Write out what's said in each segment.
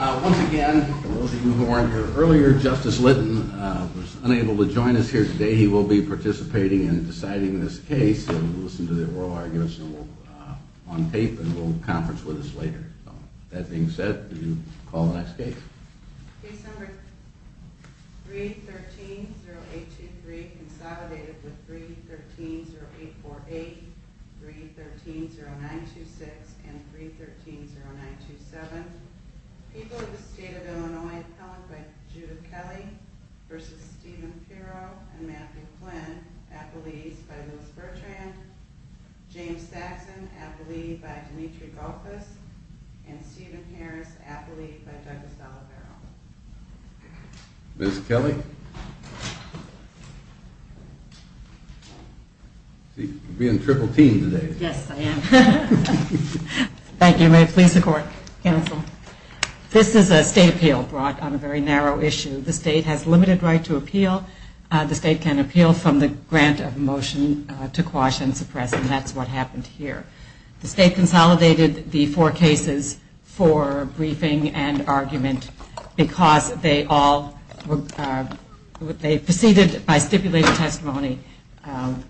Once again, for those of you who weren't here earlier, Justice Litton was unable to join us here today. He will be participating in deciding this case, and we'll listen to the oral arguments on tape, and we'll conference with us later. With that being said, we'll call the next case. Case number 313-0823, consolidated with 313-0848, 313-0926, and 313-0927. People of the State of Illinois, appellate by Judith Kelly v. Stephen Pirro and Matthew Flynn, appellees by Lewis Bertrand, James Saxon, appellee by Dimitri Galkas, and Stephen Harris, appellee by Douglas D'Olivero. Ms. Kelly? You're being triple teamed today. Yes, I am. Thank you. May it please the court. This is a state appeal brought on a very narrow issue. The state has limited right to appeal. The state can appeal from the grant of motion to quash and suppress, and that's what happened here. The state consolidated the four cases for briefing and argument because they all, they proceeded by stipulated testimony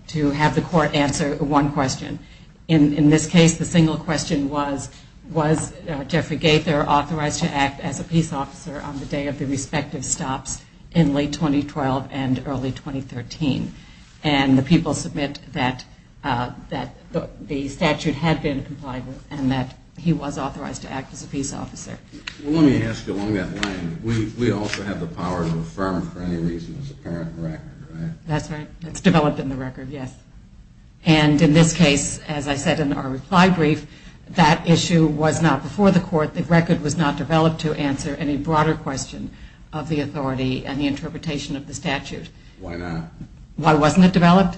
to have the court answer one question. In this case, the single question was, was Jeffrey Gaither authorized to act as a peace officer on the day of the respective stops in late 2012 and early 2013? And the people submit that the statute had been complied with and that he was authorized to act as a peace officer. Let me ask you along that line, we also have the power to affirm for any reason as a parent record, right? That's right. It's developed in the record, yes. And in this case, as I said in our reply brief, that issue was not before the court, the record was not developed to answer any broader question of the authority and the interpretation of the statute. Why not? Why wasn't it developed?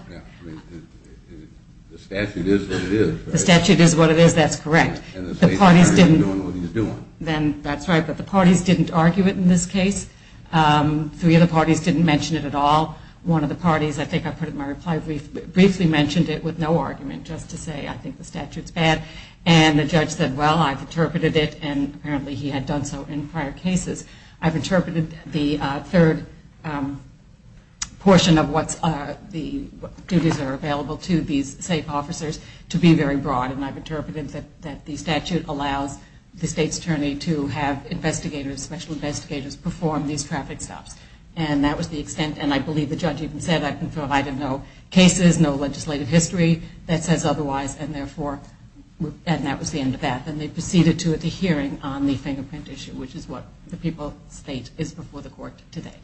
The statute is what it is. The statute is what it is, that's correct. And the state is doing what it's doing. Then that's right, but the parties didn't argue it in this case. Three of the parties didn't mention it at all. One of the parties, I think I put it in my reply brief, briefly mentioned it with no argument, just to say I think the statute's bad. And the judge said, well, I've interpreted it, and apparently he had done so in prior cases. I've interpreted the third portion of what the duties are available to these safe officers to be very broad. And I've interpreted that the statute allows the state's attorney to have investigators, special investigators, perform these traffic stops. And that was the extent, and I believe the judge even said, I don't know, cases, no legislative history that says otherwise, and therefore, and that was the end of that. Then they proceeded to the hearing on the fingerprint issue, which is what the people state is before the court today.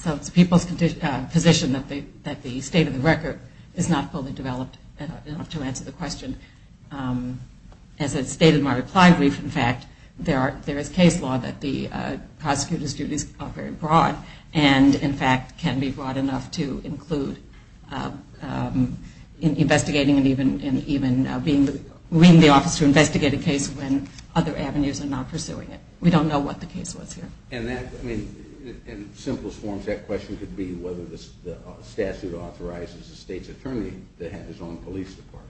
So it's the people's position that the state of the record is not fully developed enough to answer the question. As I stated in my reply brief, in fact, there is case law that the prosecutor's duties are very broad and, in fact, can be broad enough to include investigating and even bringing the officer to investigate a case when other avenues are not pursuing it. We don't know what the case was here. And that, I mean, in simplest forms, that question could be whether the statute authorizes the state's attorney to have his own police department.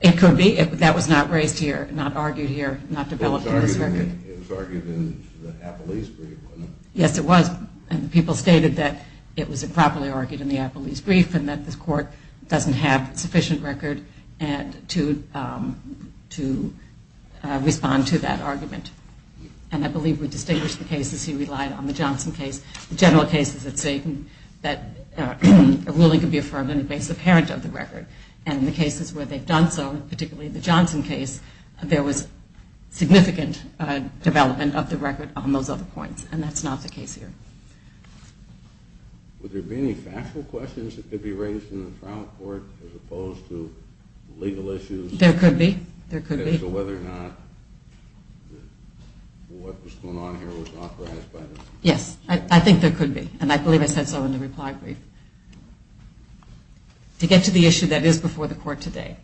It could be. That was not raised here, not argued here, not developed in this record. It was argued in the Appellee's brief, wasn't it? Yes, it was. And the people stated that it was improperly argued in the Appellee's brief and that the court doesn't have sufficient record to respond to that argument. And I believe we distinguish the cases he relied on, the Johnson case, the general cases that say that a ruling can be affirmed on the basis apparent of the record. And in the cases where they've done so, particularly the Johnson case, there was significant development of the record on those other points. And that's not the case here. Would there be any factual questions that could be raised in the trial court as opposed to legal issues? There could be. There could be. So whether or not what was going on here was authorized by the state police. Yes, I think there could be. And I believe I said so in the reply brief. To get to the issue that is before the court today,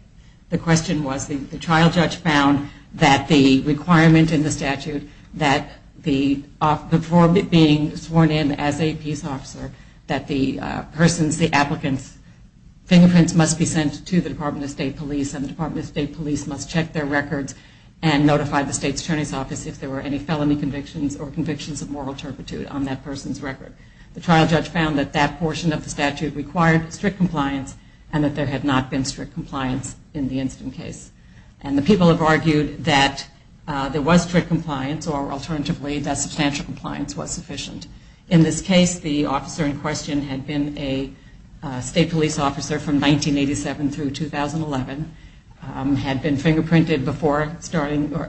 the question was, the trial judge found that the requirement in the statute, that before being sworn in as a peace officer, that the persons, the applicants' fingerprints must be sent to the Department of State Police and the Department of State Police must check their records and notify the state's attorney's office if there were any felony convictions or convictions of moral turpitude on that person's record. The trial judge found that that portion of the statute required strict compliance and that there had not been strict compliance in the incident case. And the people have argued that there was strict compliance or, alternatively, that substantial compliance was sufficient. In this case, the officer in question had been a state police officer from 1987 through 2011, had been fingerprinted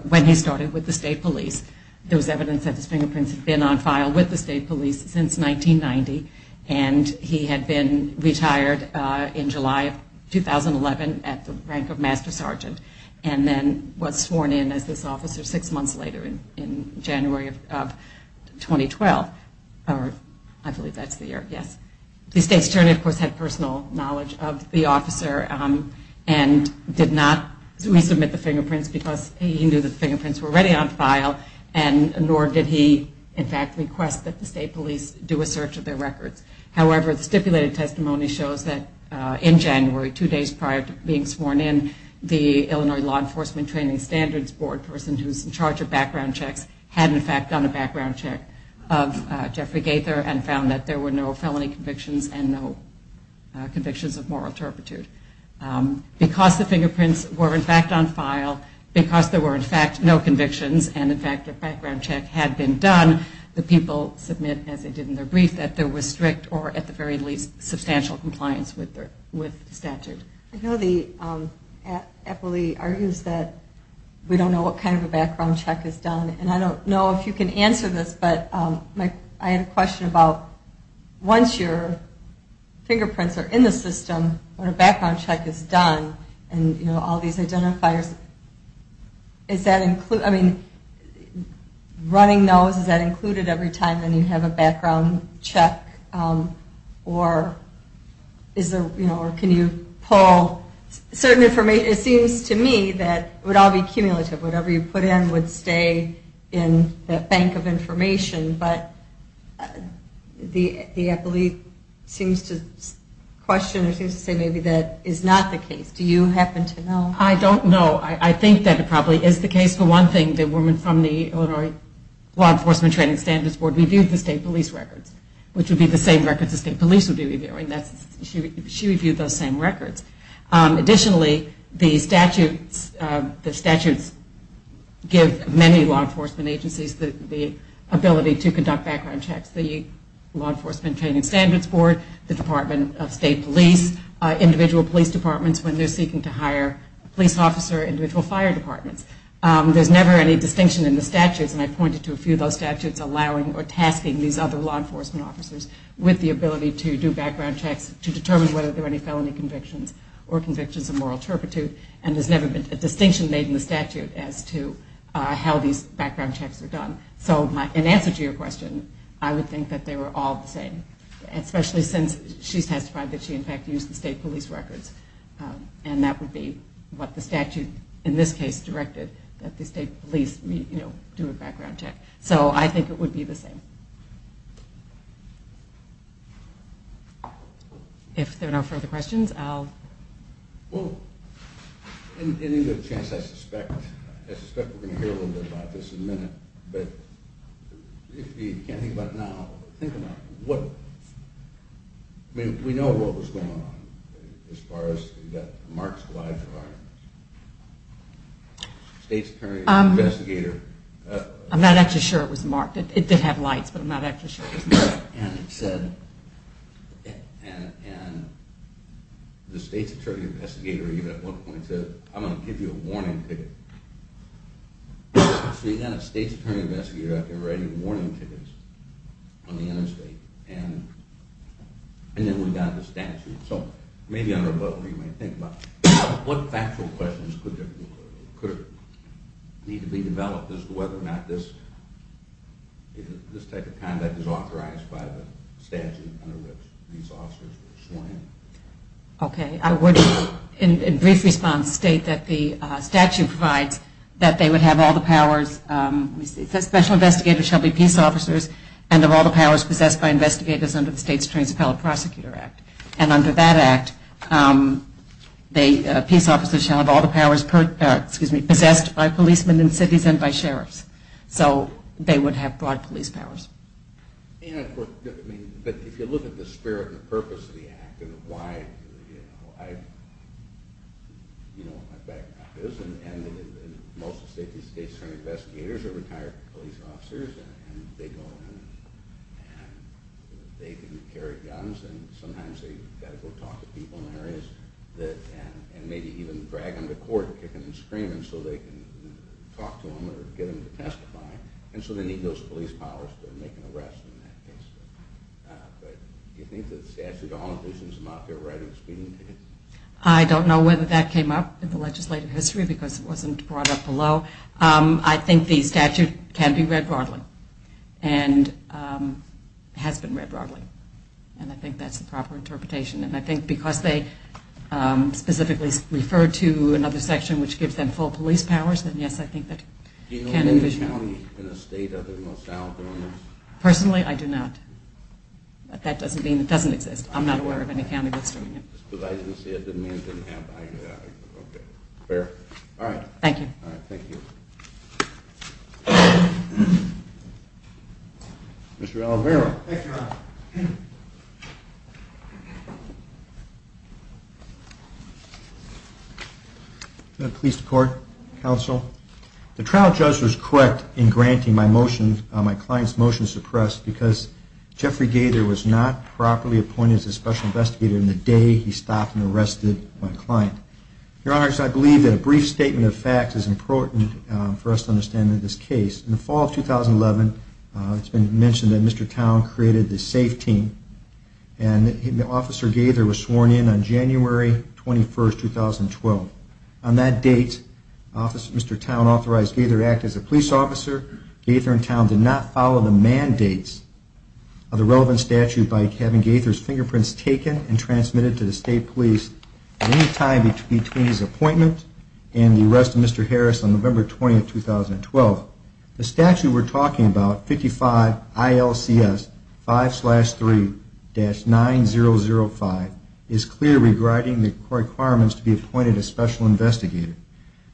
when he started with the state police. There was evidence that his fingerprints had been on file with the state police since 1990, and he had been retired in July of 2011 at the rank of master sergeant and then was sworn in as this officer six months later in January of 2012. I believe that's the year, yes. The state's attorney, of course, had personal knowledge of the officer and did not resubmit the fingerprints because he knew that the fingerprints were already on file and nor did he, in fact, request that the state police do a search of their records. However, the stipulated testimony shows that in January, two days prior to being sworn in, the Illinois Law Enforcement Training Standards Board person who's in charge of background checks had, in fact, done a background check of Jeffrey Gaither and found that there were no felony convictions and no convictions of moral turpitude. Because the fingerprints were, in fact, on file, because there were, in fact, no convictions and, in fact, a background check had been done, the people submit, as they did in their brief, that there was strict or at the very least substantial compliance with the statute. I know the FLE argues that we don't know what kind of a background check is done, and I don't know if you can answer this, but I had a question about once your fingerprints are in the system, when a background check is done and, you know, all these identifiers, is that included, I mean, running those, is that included every time that you have a background check or is there, you know, or can you pull certain information? It seems to me that it would all be cumulative. Whatever you put in would stay in the bank of information, but the FLE seems to question or seems to say maybe that is not the case. Do you happen to know? I don't know. I think that it probably is the case for one thing, the woman from the Illinois Law Enforcement Training Standards Board reviewed the state police records, which would be the same records the state police would be reviewing. She reviewed those same records. Additionally, the statutes give many law enforcement agencies the ability to conduct background checks. The Law Enforcement Training Standards Board, the Department of State Police, individual police departments when they're seeking to hire a police officer, individual fire departments. There's never any distinction in the statutes, and I pointed to a few of those statutes allowing or tasking these other law enforcement officers with the ability to do background checks to determine whether there are any felony convictions or convictions of moral turpitude, and there's never been a distinction made in the statute as to how these background checks are done. So in answer to your question, I would think that they were all the same, especially since she testified that she, in fact, used the state police records, and that would be what the statute in this case directed, that the state police do a background check. So I think it would be the same. If there are no further questions, I'll... Well, in any good chance, I suspect we're going to hear a little bit about this in a minute, but if you can't think about it now, think about it. I mean, we know what was going on as far as you got Mark's live firearms. The state's attorney investigator... I'm not actually sure it was Mark. It did have lights, but I'm not actually sure it was Mark. And it said, and the state's attorney investigator even at one point said, I'm going to give you a warning ticket. So you got a state's attorney investigator out there writing warning tickets on the interstate, and then we got the statute. So maybe on a rebuttal you might think about what factual questions could need to be developed as to whether or not this type of conduct is authorized by the statute under which these officers were sworn in. Okay. I would, in brief response, state that the statute provides that they would have all the powers... Special investigators shall be peace officers and have all the powers possessed by investigators under the state's transparent prosecutor act. And under that act, peace officers shall have all the powers possessed by policemen in cities and by sheriffs. So they would have broad police powers. But if you look at the spirit and the purpose of the act and why... You know what my background is, and most of the state's attorney investigators are retired police officers, and they go in and they can carry guns, and sometimes they've got to go talk to people in areas and maybe even drag them to court and kick them and scream so they can talk to them or get them to testify. And so they need those police powers to make an arrest in that case. But do you think that the statute of homicides is out there right at the screening table? I don't know whether that came up in the legislative history because it wasn't brought up below. I think the statute can be read broadly and has been read broadly. And I think that's the proper interpretation. And I think because they specifically referred to another section which gives them full police powers, then yes, I think that can envision. Do you know of any county in the state other than Los Alamos? Personally, I do not. That doesn't mean it doesn't exist. I'm not aware of any county that's doing it. Just because I didn't see it doesn't mean I didn't have an idea. Fair. All right. Thank you. All right, thank you. Mr. Alvaro. Thank you, Your Honor. The trial judge was correct in granting my client's motion to suppress because Jeffrey Gaither was not properly appointed as a special investigator on the day he stopped and arrested my client. Your Honor, I believe that a brief statement of facts is important for us to understand in this case. In the fall of 2011, it's been mentioned that Mr. Towne created the SAFE team, and Officer Gaither was sworn in on January 21, 2012. On that date, Mr. Towne authorized Gaither to act as a police officer. Gaither and Towne did not follow the mandates of the relevant statute by having Gaither's fingerprints taken and transmitted to the state police at any time between his appointment and the arrest of Mr. Harris on November 20, 2012. The statute we're talking about, 55 ILCS 5-3-9005, is clear regarding the requirements to be appointed a special investigator.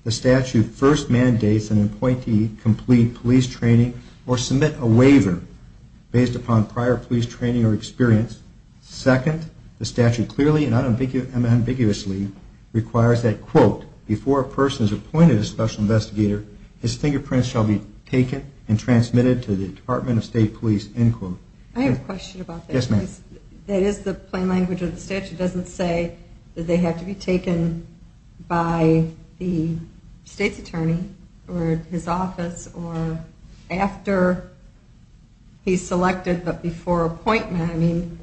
The statute first mandates an appointee complete police training or submit a waiver based upon prior police training or experience. Second, the statute clearly and unambiguously requires that, quote, before a person is appointed a special investigator, his fingerprints shall be taken and transmitted to the Department of State Police, end quote. I have a question about that. Yes, ma'am. That is the plain language of the statute. It doesn't say that they have to be taken by the state's attorney or his office or after he's selected but before appointment. I mean,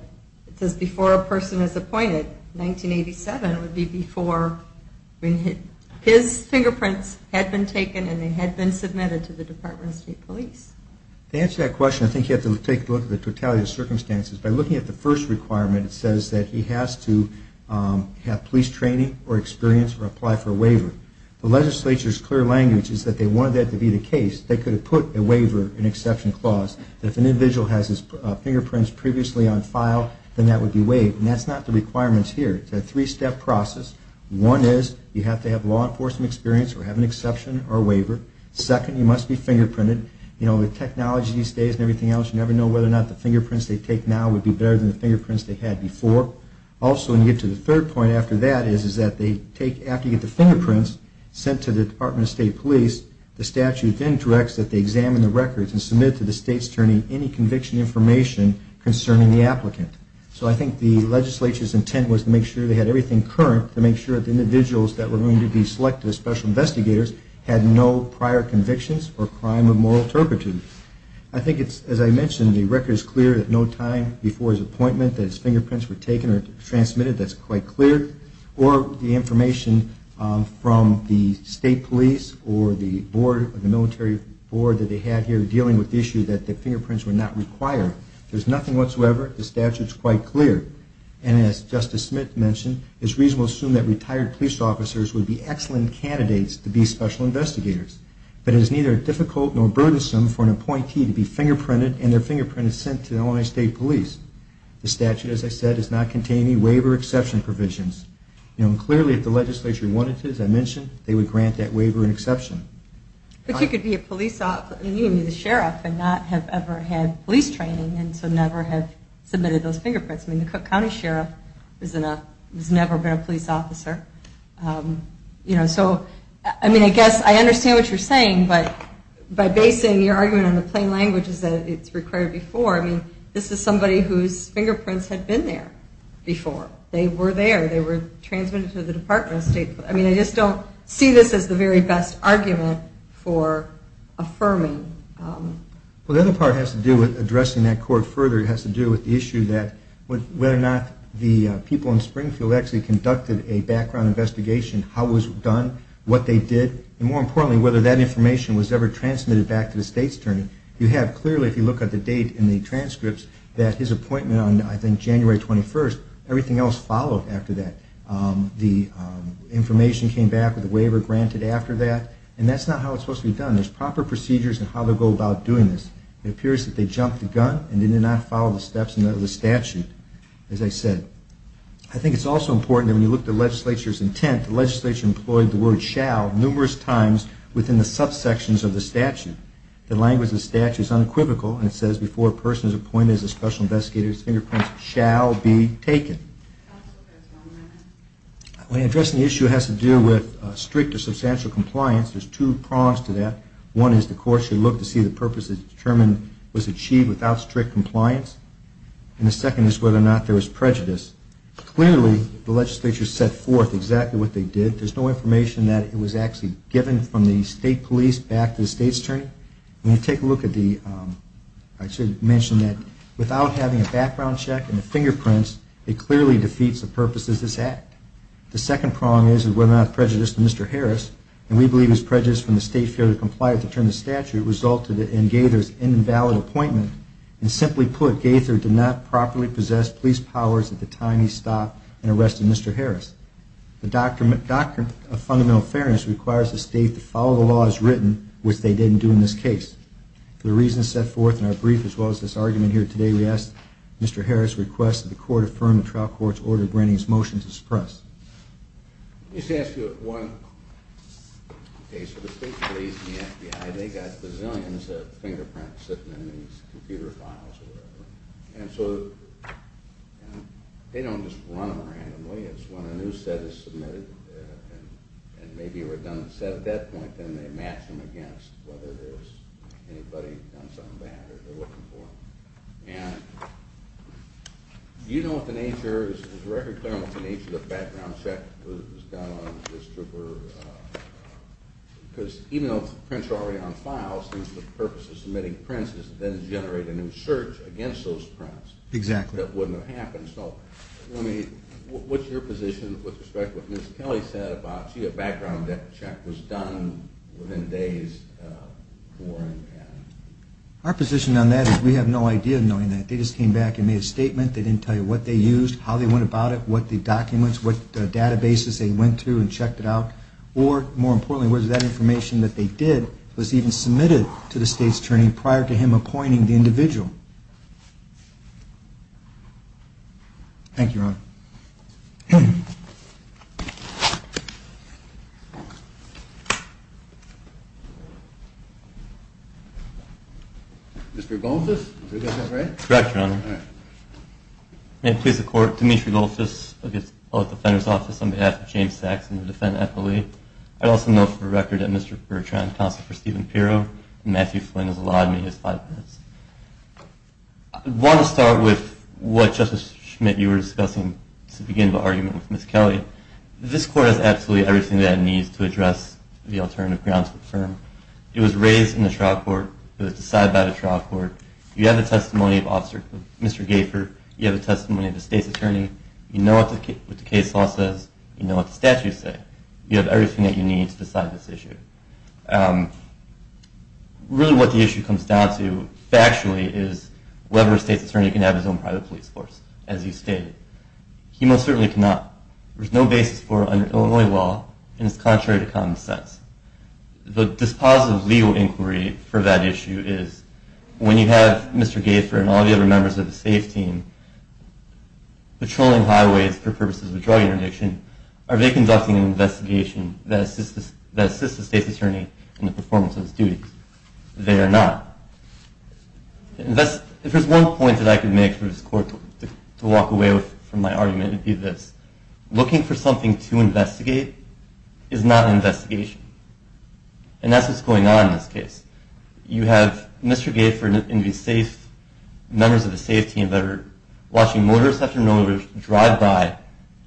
it says before a person is appointed. 1987 would be before his fingerprints had been taken and they had been submitted to the Department of State Police. To answer that question, I think you have to take a look at the totality of circumstances. By looking at the first requirement, it says that he has to have police training or experience or apply for a waiver. The legislature's clear language is that they wanted that to be the case. They could have put a waiver, an exception clause, that if an individual has his fingerprints previously on file, then that would be waived. And that's not the requirements here. It's a three-step process. One is you have to have law enforcement experience or have an exception or waiver. Second, you must be fingerprinted. You know, with technology these days and everything else, you never know whether or not the fingerprints they take now would be better than the fingerprints they had before. Also, when you get to the third point after that is that they take, after you get the fingerprints sent to the Department of State Police, the statute then directs that they examine the records and submit to the state's attorney any conviction information concerning the applicant. So I think the legislature's intent was to make sure they had everything current to make sure that the individuals that were going to be selected as special investigators had no prior convictions or crime of moral turpitude. I think it's, as I mentioned, the record is clear that no time before his appointment that his fingerprints were taken or transmitted. That's quite clear. Or the information from the state police or the military board that they had here dealing with the issue that the fingerprints were not required. There's nothing whatsoever. The statute's quite clear. And as Justice Smith mentioned, it's reasonable to assume that retired police officers would be excellent candidates to be special investigators. But it is neither difficult nor burdensome for an appointee to be fingerprinted and their fingerprint is sent to the Illinois State Police. The statute, as I said, does not contain any waiver exception provisions. Clearly, if the legislature wanted to, as I mentioned, they would grant that waiver an exception. But you could be a police officer, you could be the sheriff and not have ever had police training and so never have submitted those fingerprints. I mean, the Cook County Sheriff has never been a police officer. So, I mean, I guess I understand what you're saying, but by basing your argument on the plain language is that it's required before. I mean, this is somebody whose fingerprints had been there before. They were there. They were transmitted to the Department of State. I mean, I just don't see this as the very best argument for affirming. Well, the other part has to do with addressing that court further. It has to do with the issue that whether or not the people in Springfield actually conducted a background investigation, how it was done, what they did, and more importantly, whether that information was ever transmitted back to the state's attorney. You have clearly, if you look at the date in the transcripts, that his appointment on, I think, January 21st, everything else followed after that. The information came back with the waiver granted after that, and that's not how it's supposed to be done. There's proper procedures in how to go about doing this. It appears that they jumped the gun and did not follow the steps in the statute, as I said. I think it's also important that when you look at the legislature's intent, the legislature employed the word shall numerous times within the subsections of the statute. The language of the statute is unequivocal, and it says, before a person is appointed as a special investigator, his fingerprints shall be taken. When addressing the issue, it has to do with strict or substantial compliance. There's two prongs to that. One is the court should look to see the purpose is determined was achieved without strict compliance, and the second is whether or not there was prejudice. Clearly, the legislature set forth exactly what they did. There's no information that it was actually given from the state police back to the state's attorney. When you take a look at the, I should mention that without having a background check and the fingerprints, it clearly defeats the purpose of this act. The second prong is whether or not prejudice to Mr. Harris, and we believe his prejudice from the state failure to comply with the term of the statute resulted in Gaither's invalid appointment. And simply put, Gaither did not properly possess police powers at the time he stopped and arrested Mr. Harris. The doctrine of fundamental fairness requires the state to follow the laws written, which they didn't do in this case. The reasons set forth in our brief, as well as this argument here today, we ask Mr. Harris' request that the court affirm the trial court's order granting his motion to suppress. Let me just ask you one. Okay, so the state police and the FBI, they got bazillions of fingerprints sitting in these computer files or whatever, and so they don't just run them randomly. It's when a new set is submitted and maybe a redundant set at that point, then they match them against whether there's anybody done something bad or they're looking for them. And do you know what the nature, is it very clear what the nature of the background check was done on this trooper? Because even though the prints are already on file, the purpose of submitting prints is to generate a new search against those prints. Exactly. That wouldn't have happened. So what's your position with respect to what Ms. Kelly said about, gee, a background check was done within days. Our position on that is we have no idea knowing that. They just came back and made a statement. They didn't tell you what they used, how they went about it, what the documents, what databases they went to and checked it out. Or, more importantly, whether that information that they did was even submitted to the state's attorney prior to him appointing the individual. Thank you, Your Honor. Mr. Goldfuss, did I get that right? Correct, Your Honor. May it please the Court, I report to Mr. Goldfuss of the Public Defender's Office on behalf of James Saxon to defend Eppley. I also note for record that Mr. Bertrand counseled for Stephen Pirro, and Matthew Flynn has allowed me his five minutes. I want to start with what, Justice Schmidt, you were discussing to begin the argument with Ms. Kelly. This Court has absolutely everything that it needs to address the alternative grounds to affirm. It was raised in the trial court, it was decided by the trial court. You have the testimony of Mr. Gaifer, you have the testimony of the state's attorney, you know what the case law says, you know what the statutes say, you have everything that you need to decide this issue. Really what the issue comes down to, factually, is whether a state's attorney can have his own private police force, as you stated. He most certainly cannot. There's no basis for it under Illinois law, and it's contrary to common sense. The dispositive legal inquiry for that issue is, when you have Mr. Gaifer and all the other members of the state's team patrolling highways for purposes of drug interdiction, are they conducting an investigation that assists the state's attorney in the performance of his duties? They are not. If there's one point that I could make for this Court to walk away from my argument, it would be this. Looking for something to investigate is not an investigation. And that's what's going on in this case. You have Mr. Gaifer and these safe members of the state's team that are watching motorists after an overdrive by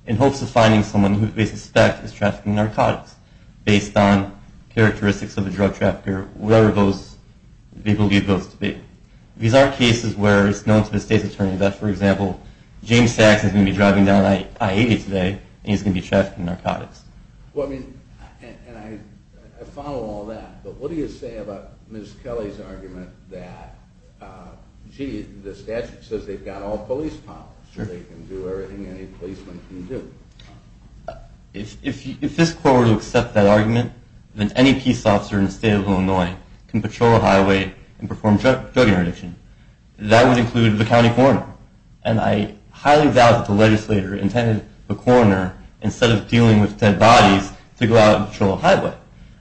in hopes of finding someone who they suspect is trafficking narcotics, based on characteristics of the drug trafficker, whatever those people give those to be. These are cases where it's known to the state's attorney that, for example, James Sachs is going to be driving down I-80 today and he's going to be trafficking narcotics. I follow all that, but what do you say about Ms. Kelly's argument that, gee, the statute says they've got all police powers. They can do everything any policeman can do. If this Court were to accept that argument, then any peace officer in the state of Illinois can patrol a highway and perform drug interdiction. That would include the county coroner, and I highly doubt that the legislator intended the coroner, instead of dealing with dead bodies, to go out and patrol a highway.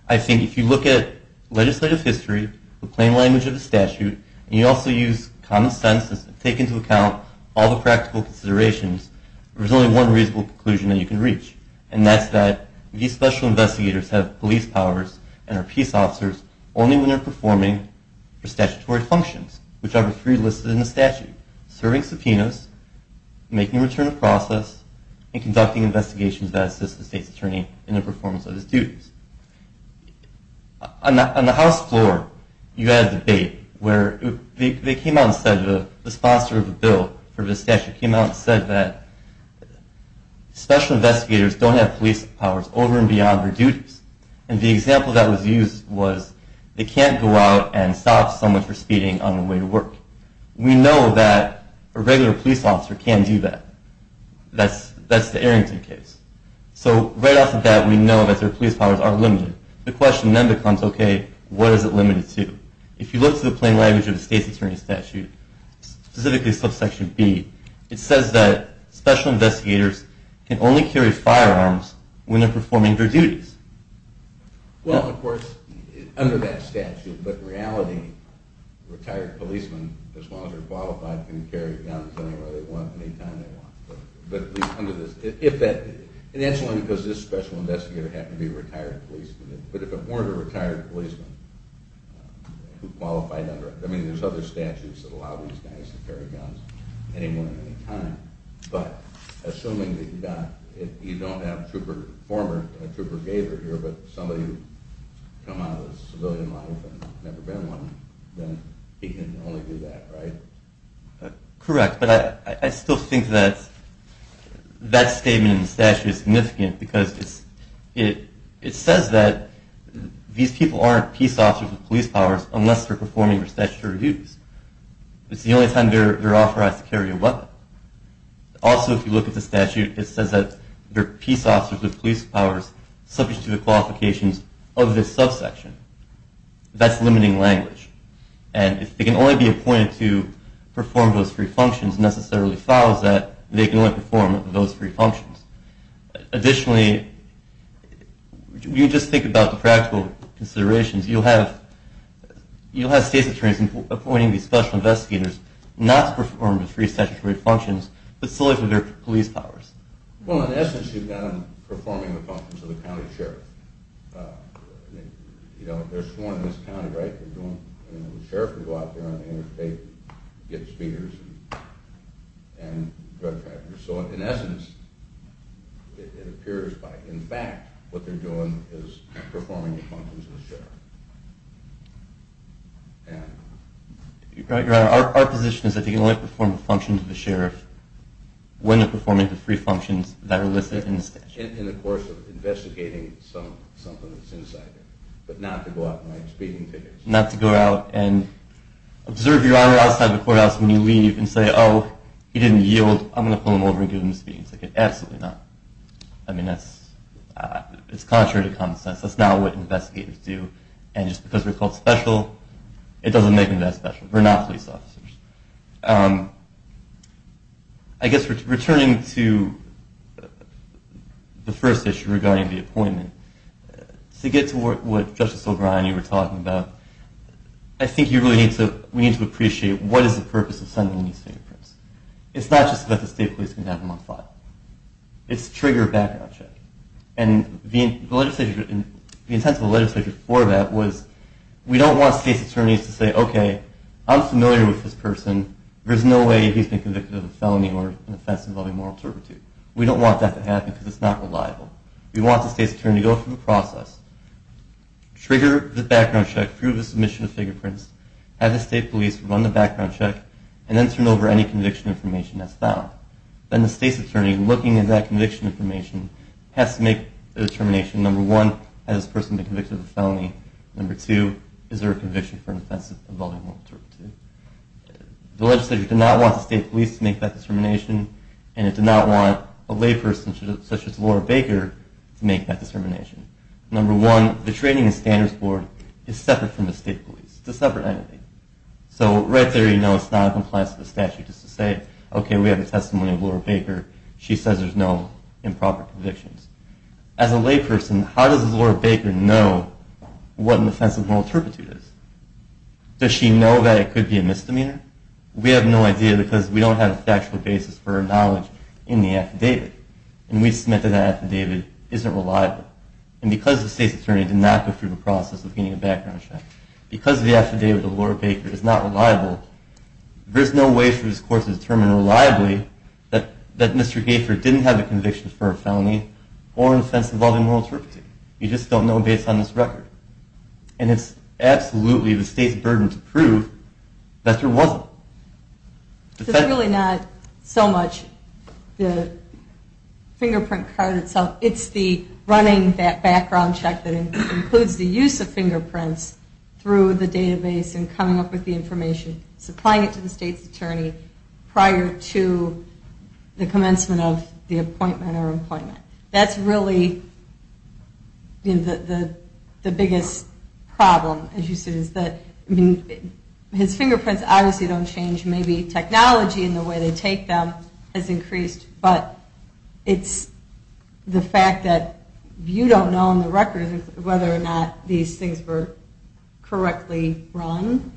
I think if you look at legislative history, the plain language of the statute, and you also use common sense and take into account all the practical considerations, there's only one reasonable conclusion that you can reach, and that's that these special investigators have police powers and are peace officers only when they're performing their statutory functions, which are the three listed in the statute, serving subpoenas, making a return of process, and conducting investigations that assist the state's attorney in the performance of his duties. On the House floor, you had a debate where they came out and said, the sponsor of the bill for the statute came out and said that special investigators don't have police powers over and beyond their duties, and the example that was used was they can't go out and stop someone for speeding on the way to work. We know that a regular police officer can't do that. That's the Arrington case. So right off the bat, we know that their police powers are limited. The question then becomes, okay, what is it limited to? If you look to the plain language of the state's attorney statute, specifically subsection B, it says that special investigators can only carry firearms when they're performing their duties. Well, of course, under that statute, but in reality, retired policemen, as long as they're qualified, can carry guns anywhere they want, anytime they want. And that's only because this special investigator happened to be a retired policeman. But if it weren't a retired policeman who qualified under it, I mean there's other statutes that allow these guys to carry guns anywhere at any time, but assuming that you don't have a former trooper gator here, but somebody who's come out of the civilian life and never been one, then he can only do that, right? Correct, but I still think that that statement in the statute is significant because it says that these people aren't peace officers with police powers unless they're performing their statutory duties. It's the only time they're authorized to carry a weapon. Also, if you look at the statute, it says that they're peace officers with police powers subject to the qualifications of this subsection. That's limiting language. And if they can only be appointed to perform those three functions, it necessarily follows that they can only perform those three functions. Additionally, if you just think about the practical considerations, you'll have state attorneys appointing these special investigators not to perform the three statutory functions, but solely for their police powers. Well, in essence, you've got them performing the functions of the county sheriff. You know, they're sworn in as county, right? The sheriff would go out there on the interstate and get speeders and drug traffickers. So in essence, it appears that in fact what they're doing is performing the functions of the sheriff. Your Honor, our position is that they can only perform the functions of the sheriff when they're performing the three functions that are listed in the statute. In the course of investigating something that's insider. But not to go out and write speaking tickets. Not to go out and observe Your Honor outside the courthouse when you leave and say, oh, he didn't yield, I'm going to pull him over and give him a speaking ticket. Absolutely not. I mean, that's contrary to common sense. That's not what investigators do. And just because they're called special, it doesn't make them that special. They're not police officers. I guess returning to the first issue regarding the appointment, to get to what Justice O'Brien and you were talking about, I think we need to appreciate what is the purpose of sending these fingerprints. It's not just that the state police can have them on file. It's to trigger a background check. And the intent of the legislature for that was we don't want state attorneys to say, okay, I'm familiar with this person. There's no way he's been convicted of a felony or an offense involving moral turpitude. We don't want that to happen because it's not reliable. We want the state's attorney to go through the process, trigger the background check, prove the submission of fingerprints, have the state police run the background check, and then turn over any conviction information that's found. Then the state's attorney, looking at that conviction information, has to make a determination. Number one, has this person been convicted of a felony? Number two, is there a conviction for an offense involving moral turpitude? The legislature did not want the state police to make that determination, and it did not want a layperson such as Laura Baker to make that determination. Number one, the Training and Standards Board is separate from the state police. It's a separate entity. So right there you know it's not in compliance with the statute just to say, okay, we have a testimony of Laura Baker. She says there's no improper convictions. As a layperson, how does Laura Baker know what an offense of moral turpitude is? Does she know that it could be a misdemeanor? We have no idea because we don't have a factual basis for our knowledge in the affidavit. And we've submitted that affidavit isn't reliable. And because the state's attorney did not go through the process of getting a background check, because the affidavit of Laura Baker is not reliable, there's no way for this court to determine reliably that Mr. Gaifer didn't have a conviction for a felony or an offense involving moral turpitude. You just don't know based on this record. And it's absolutely the state's burden to prove that there wasn't. It's really not so much the fingerprint card itself. It's the running that background check that includes the use of fingerprints through the database and coming up with the information, supplying it to the state's attorney prior to the commencement of the appointment or employment. That's really the biggest problem, as you said. His fingerprints obviously don't change. Maybe technology and the way they take them has increased. But it's the fact that you don't know on the record whether or not these things were correctly run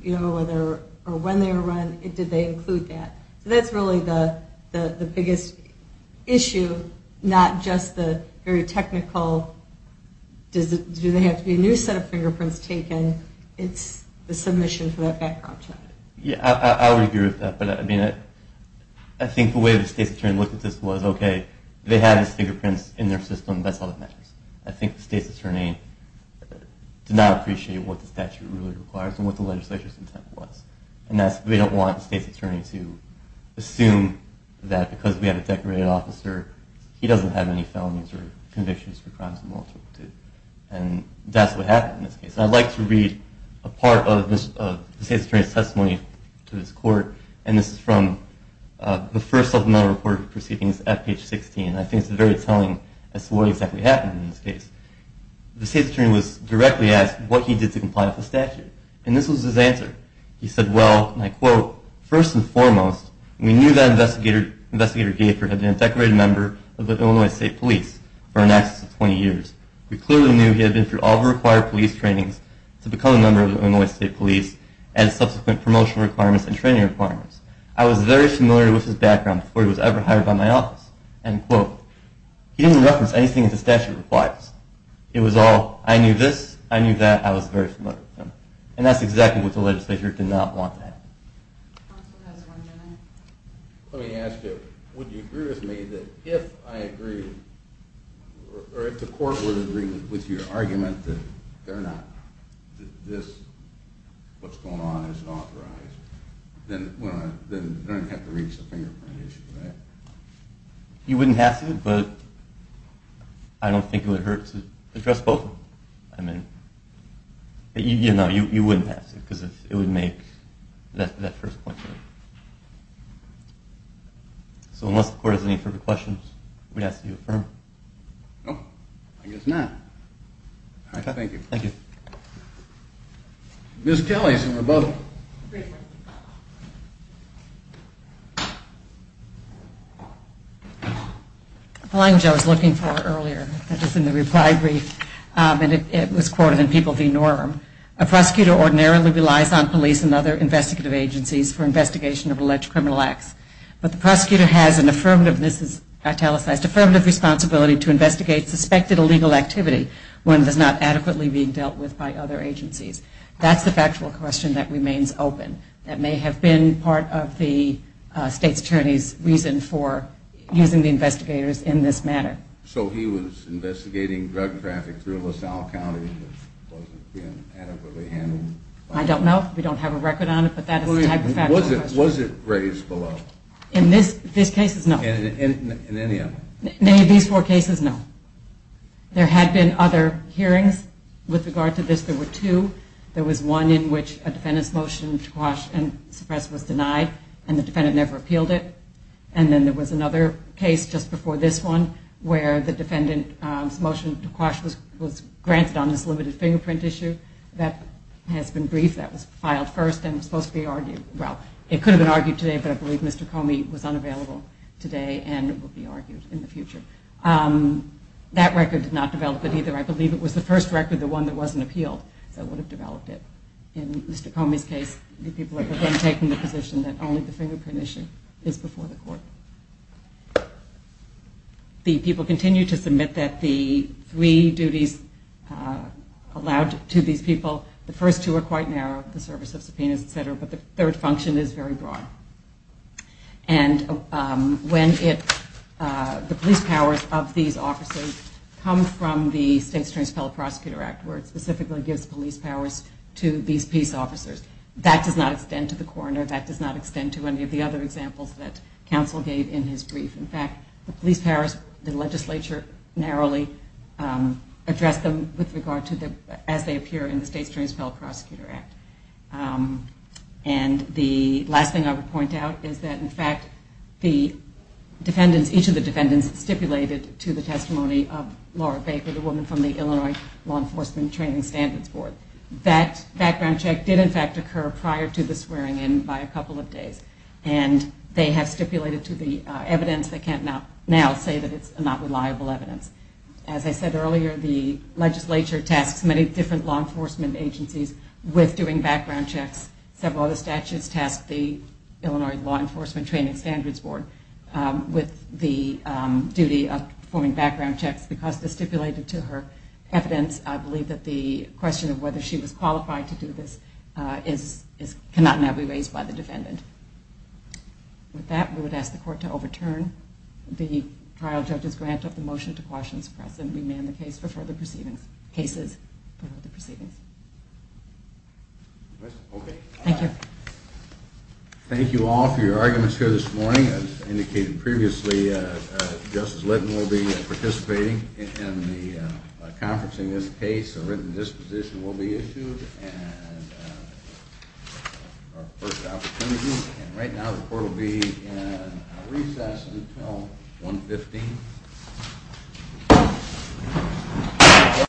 or when they were run. Did they include that? So that's really the biggest issue, not just the very technical, do they have to be a new set of fingerprints taken? It's the submission for that background check. Yeah, I would agree with that. I think the way the state's attorney looked at this was, okay, they have these fingerprints in their system. That's all that matters. I think the state's attorney did not appreciate what the statute really requires and what the legislature's intent was. We don't want the state's attorney to assume that because we have a decorated officer, he doesn't have any felonies or convictions for crimes of multiplicity. That's what happened in this case. I'd like to read a part of the state's attorney's testimony to this court. This is from the first supplemental report of proceedings at page 16. I think it's very telling as to what exactly happened in this case. The state's attorney was directly asked what he did to comply with the statute, and this was his answer. He said, well, and I quote, It was all, I knew this, I knew that, I was very familiar with them. And that's exactly what the legislature did not want to happen. Counsel has one minute. Let me ask you, would you agree with me that if I agreed, or if the court would agree with your argument that they're not, that this, what's going on is unauthorized, then they don't have to reach the fingerprint issue, right? You wouldn't have to, but I don't think it would hurt to address both. I mean, you know, you wouldn't have to, because it would make that first point. So unless the court has any further questions, I'm going to ask that you affirm. No, I guess not. All right, thank you. Thank you. Ms. Kelly, we're both. The language I was looking for earlier, that was in the reply brief, and it was quoted in People v. Norm. A prosecutor ordinarily relies on police and other investigative agencies for investigation of alleged criminal acts. But the prosecutor has an affirmative, this is italicized, affirmative responsibility to investigate suspected illegal activity when it is not adequately being dealt with by other agencies. That's the factual question that remains open. That may have been part of the state's attorney's reason for using the investigators in this matter. So he was investigating drug traffic through LaSalle County that wasn't being adequately handled? I don't know. We don't have a record on it, but that is the type of factual question. Was it raised below? In this case, no. In any of them? In any of these four cases, no. There had been other hearings with regard to this. There were two. There was one in which a defendant's motion to quash and suppress was denied, and the defendant never appealed it. And then there was another case just before this one where the defendant's motion to quash was granted on this limited fingerprint issue. That has been briefed. That was filed first and is supposed to be argued. Well, it could have been argued today, but I believe Mr. Comey was unavailable today and it will be argued in the future. That record did not develop it either. I believe it was the first record, the one that wasn't appealed, that would have developed it. In Mr. Comey's case, the people have then taken the position that only the fingerprint issue is before the court. The people continue to submit that the three duties allowed to these people, the first two are quite narrow, the service of subpoenas, et cetera, but the third function is very broad. And when the police powers of these officers come from the State's Transparent Prosecutor Act, where it specifically gives police powers to these peace officers, that does not extend to the coroner, that does not extend to any of the other examples that counsel gave in his brief. In fact, the police powers, the legislature narrowly addressed them with regard to as they appear in the State's Transparent Prosecutor Act. And the last thing I would point out is that in fact the defendants, each of the defendants stipulated to the testimony of Laura Baker, the woman from the Illinois Law Enforcement Training Standards Board. That background check did in fact occur prior to the swearing in by a couple of days. And they have stipulated to the evidence, they can't now say that it's not reliable evidence. As I said earlier, the legislature tasks many different law enforcement agencies with doing background checks. Several other statutes task the Illinois Law Enforcement Training Standards Board with the duty of performing background checks because it's stipulated to her evidence. I believe that the question of whether she was qualified to do this cannot now be raised by the defendant. With that, we would ask the court to overturn the trial judge's grant of the motion to quash and suppress and remand the case for further proceedings. Thank you. Thank you all for your arguments here this morning. As indicated previously, Justice Litton will be participating in the conference in this case. A written disposition will be issued. And right now the court will be in recess until 1.15. Thank you.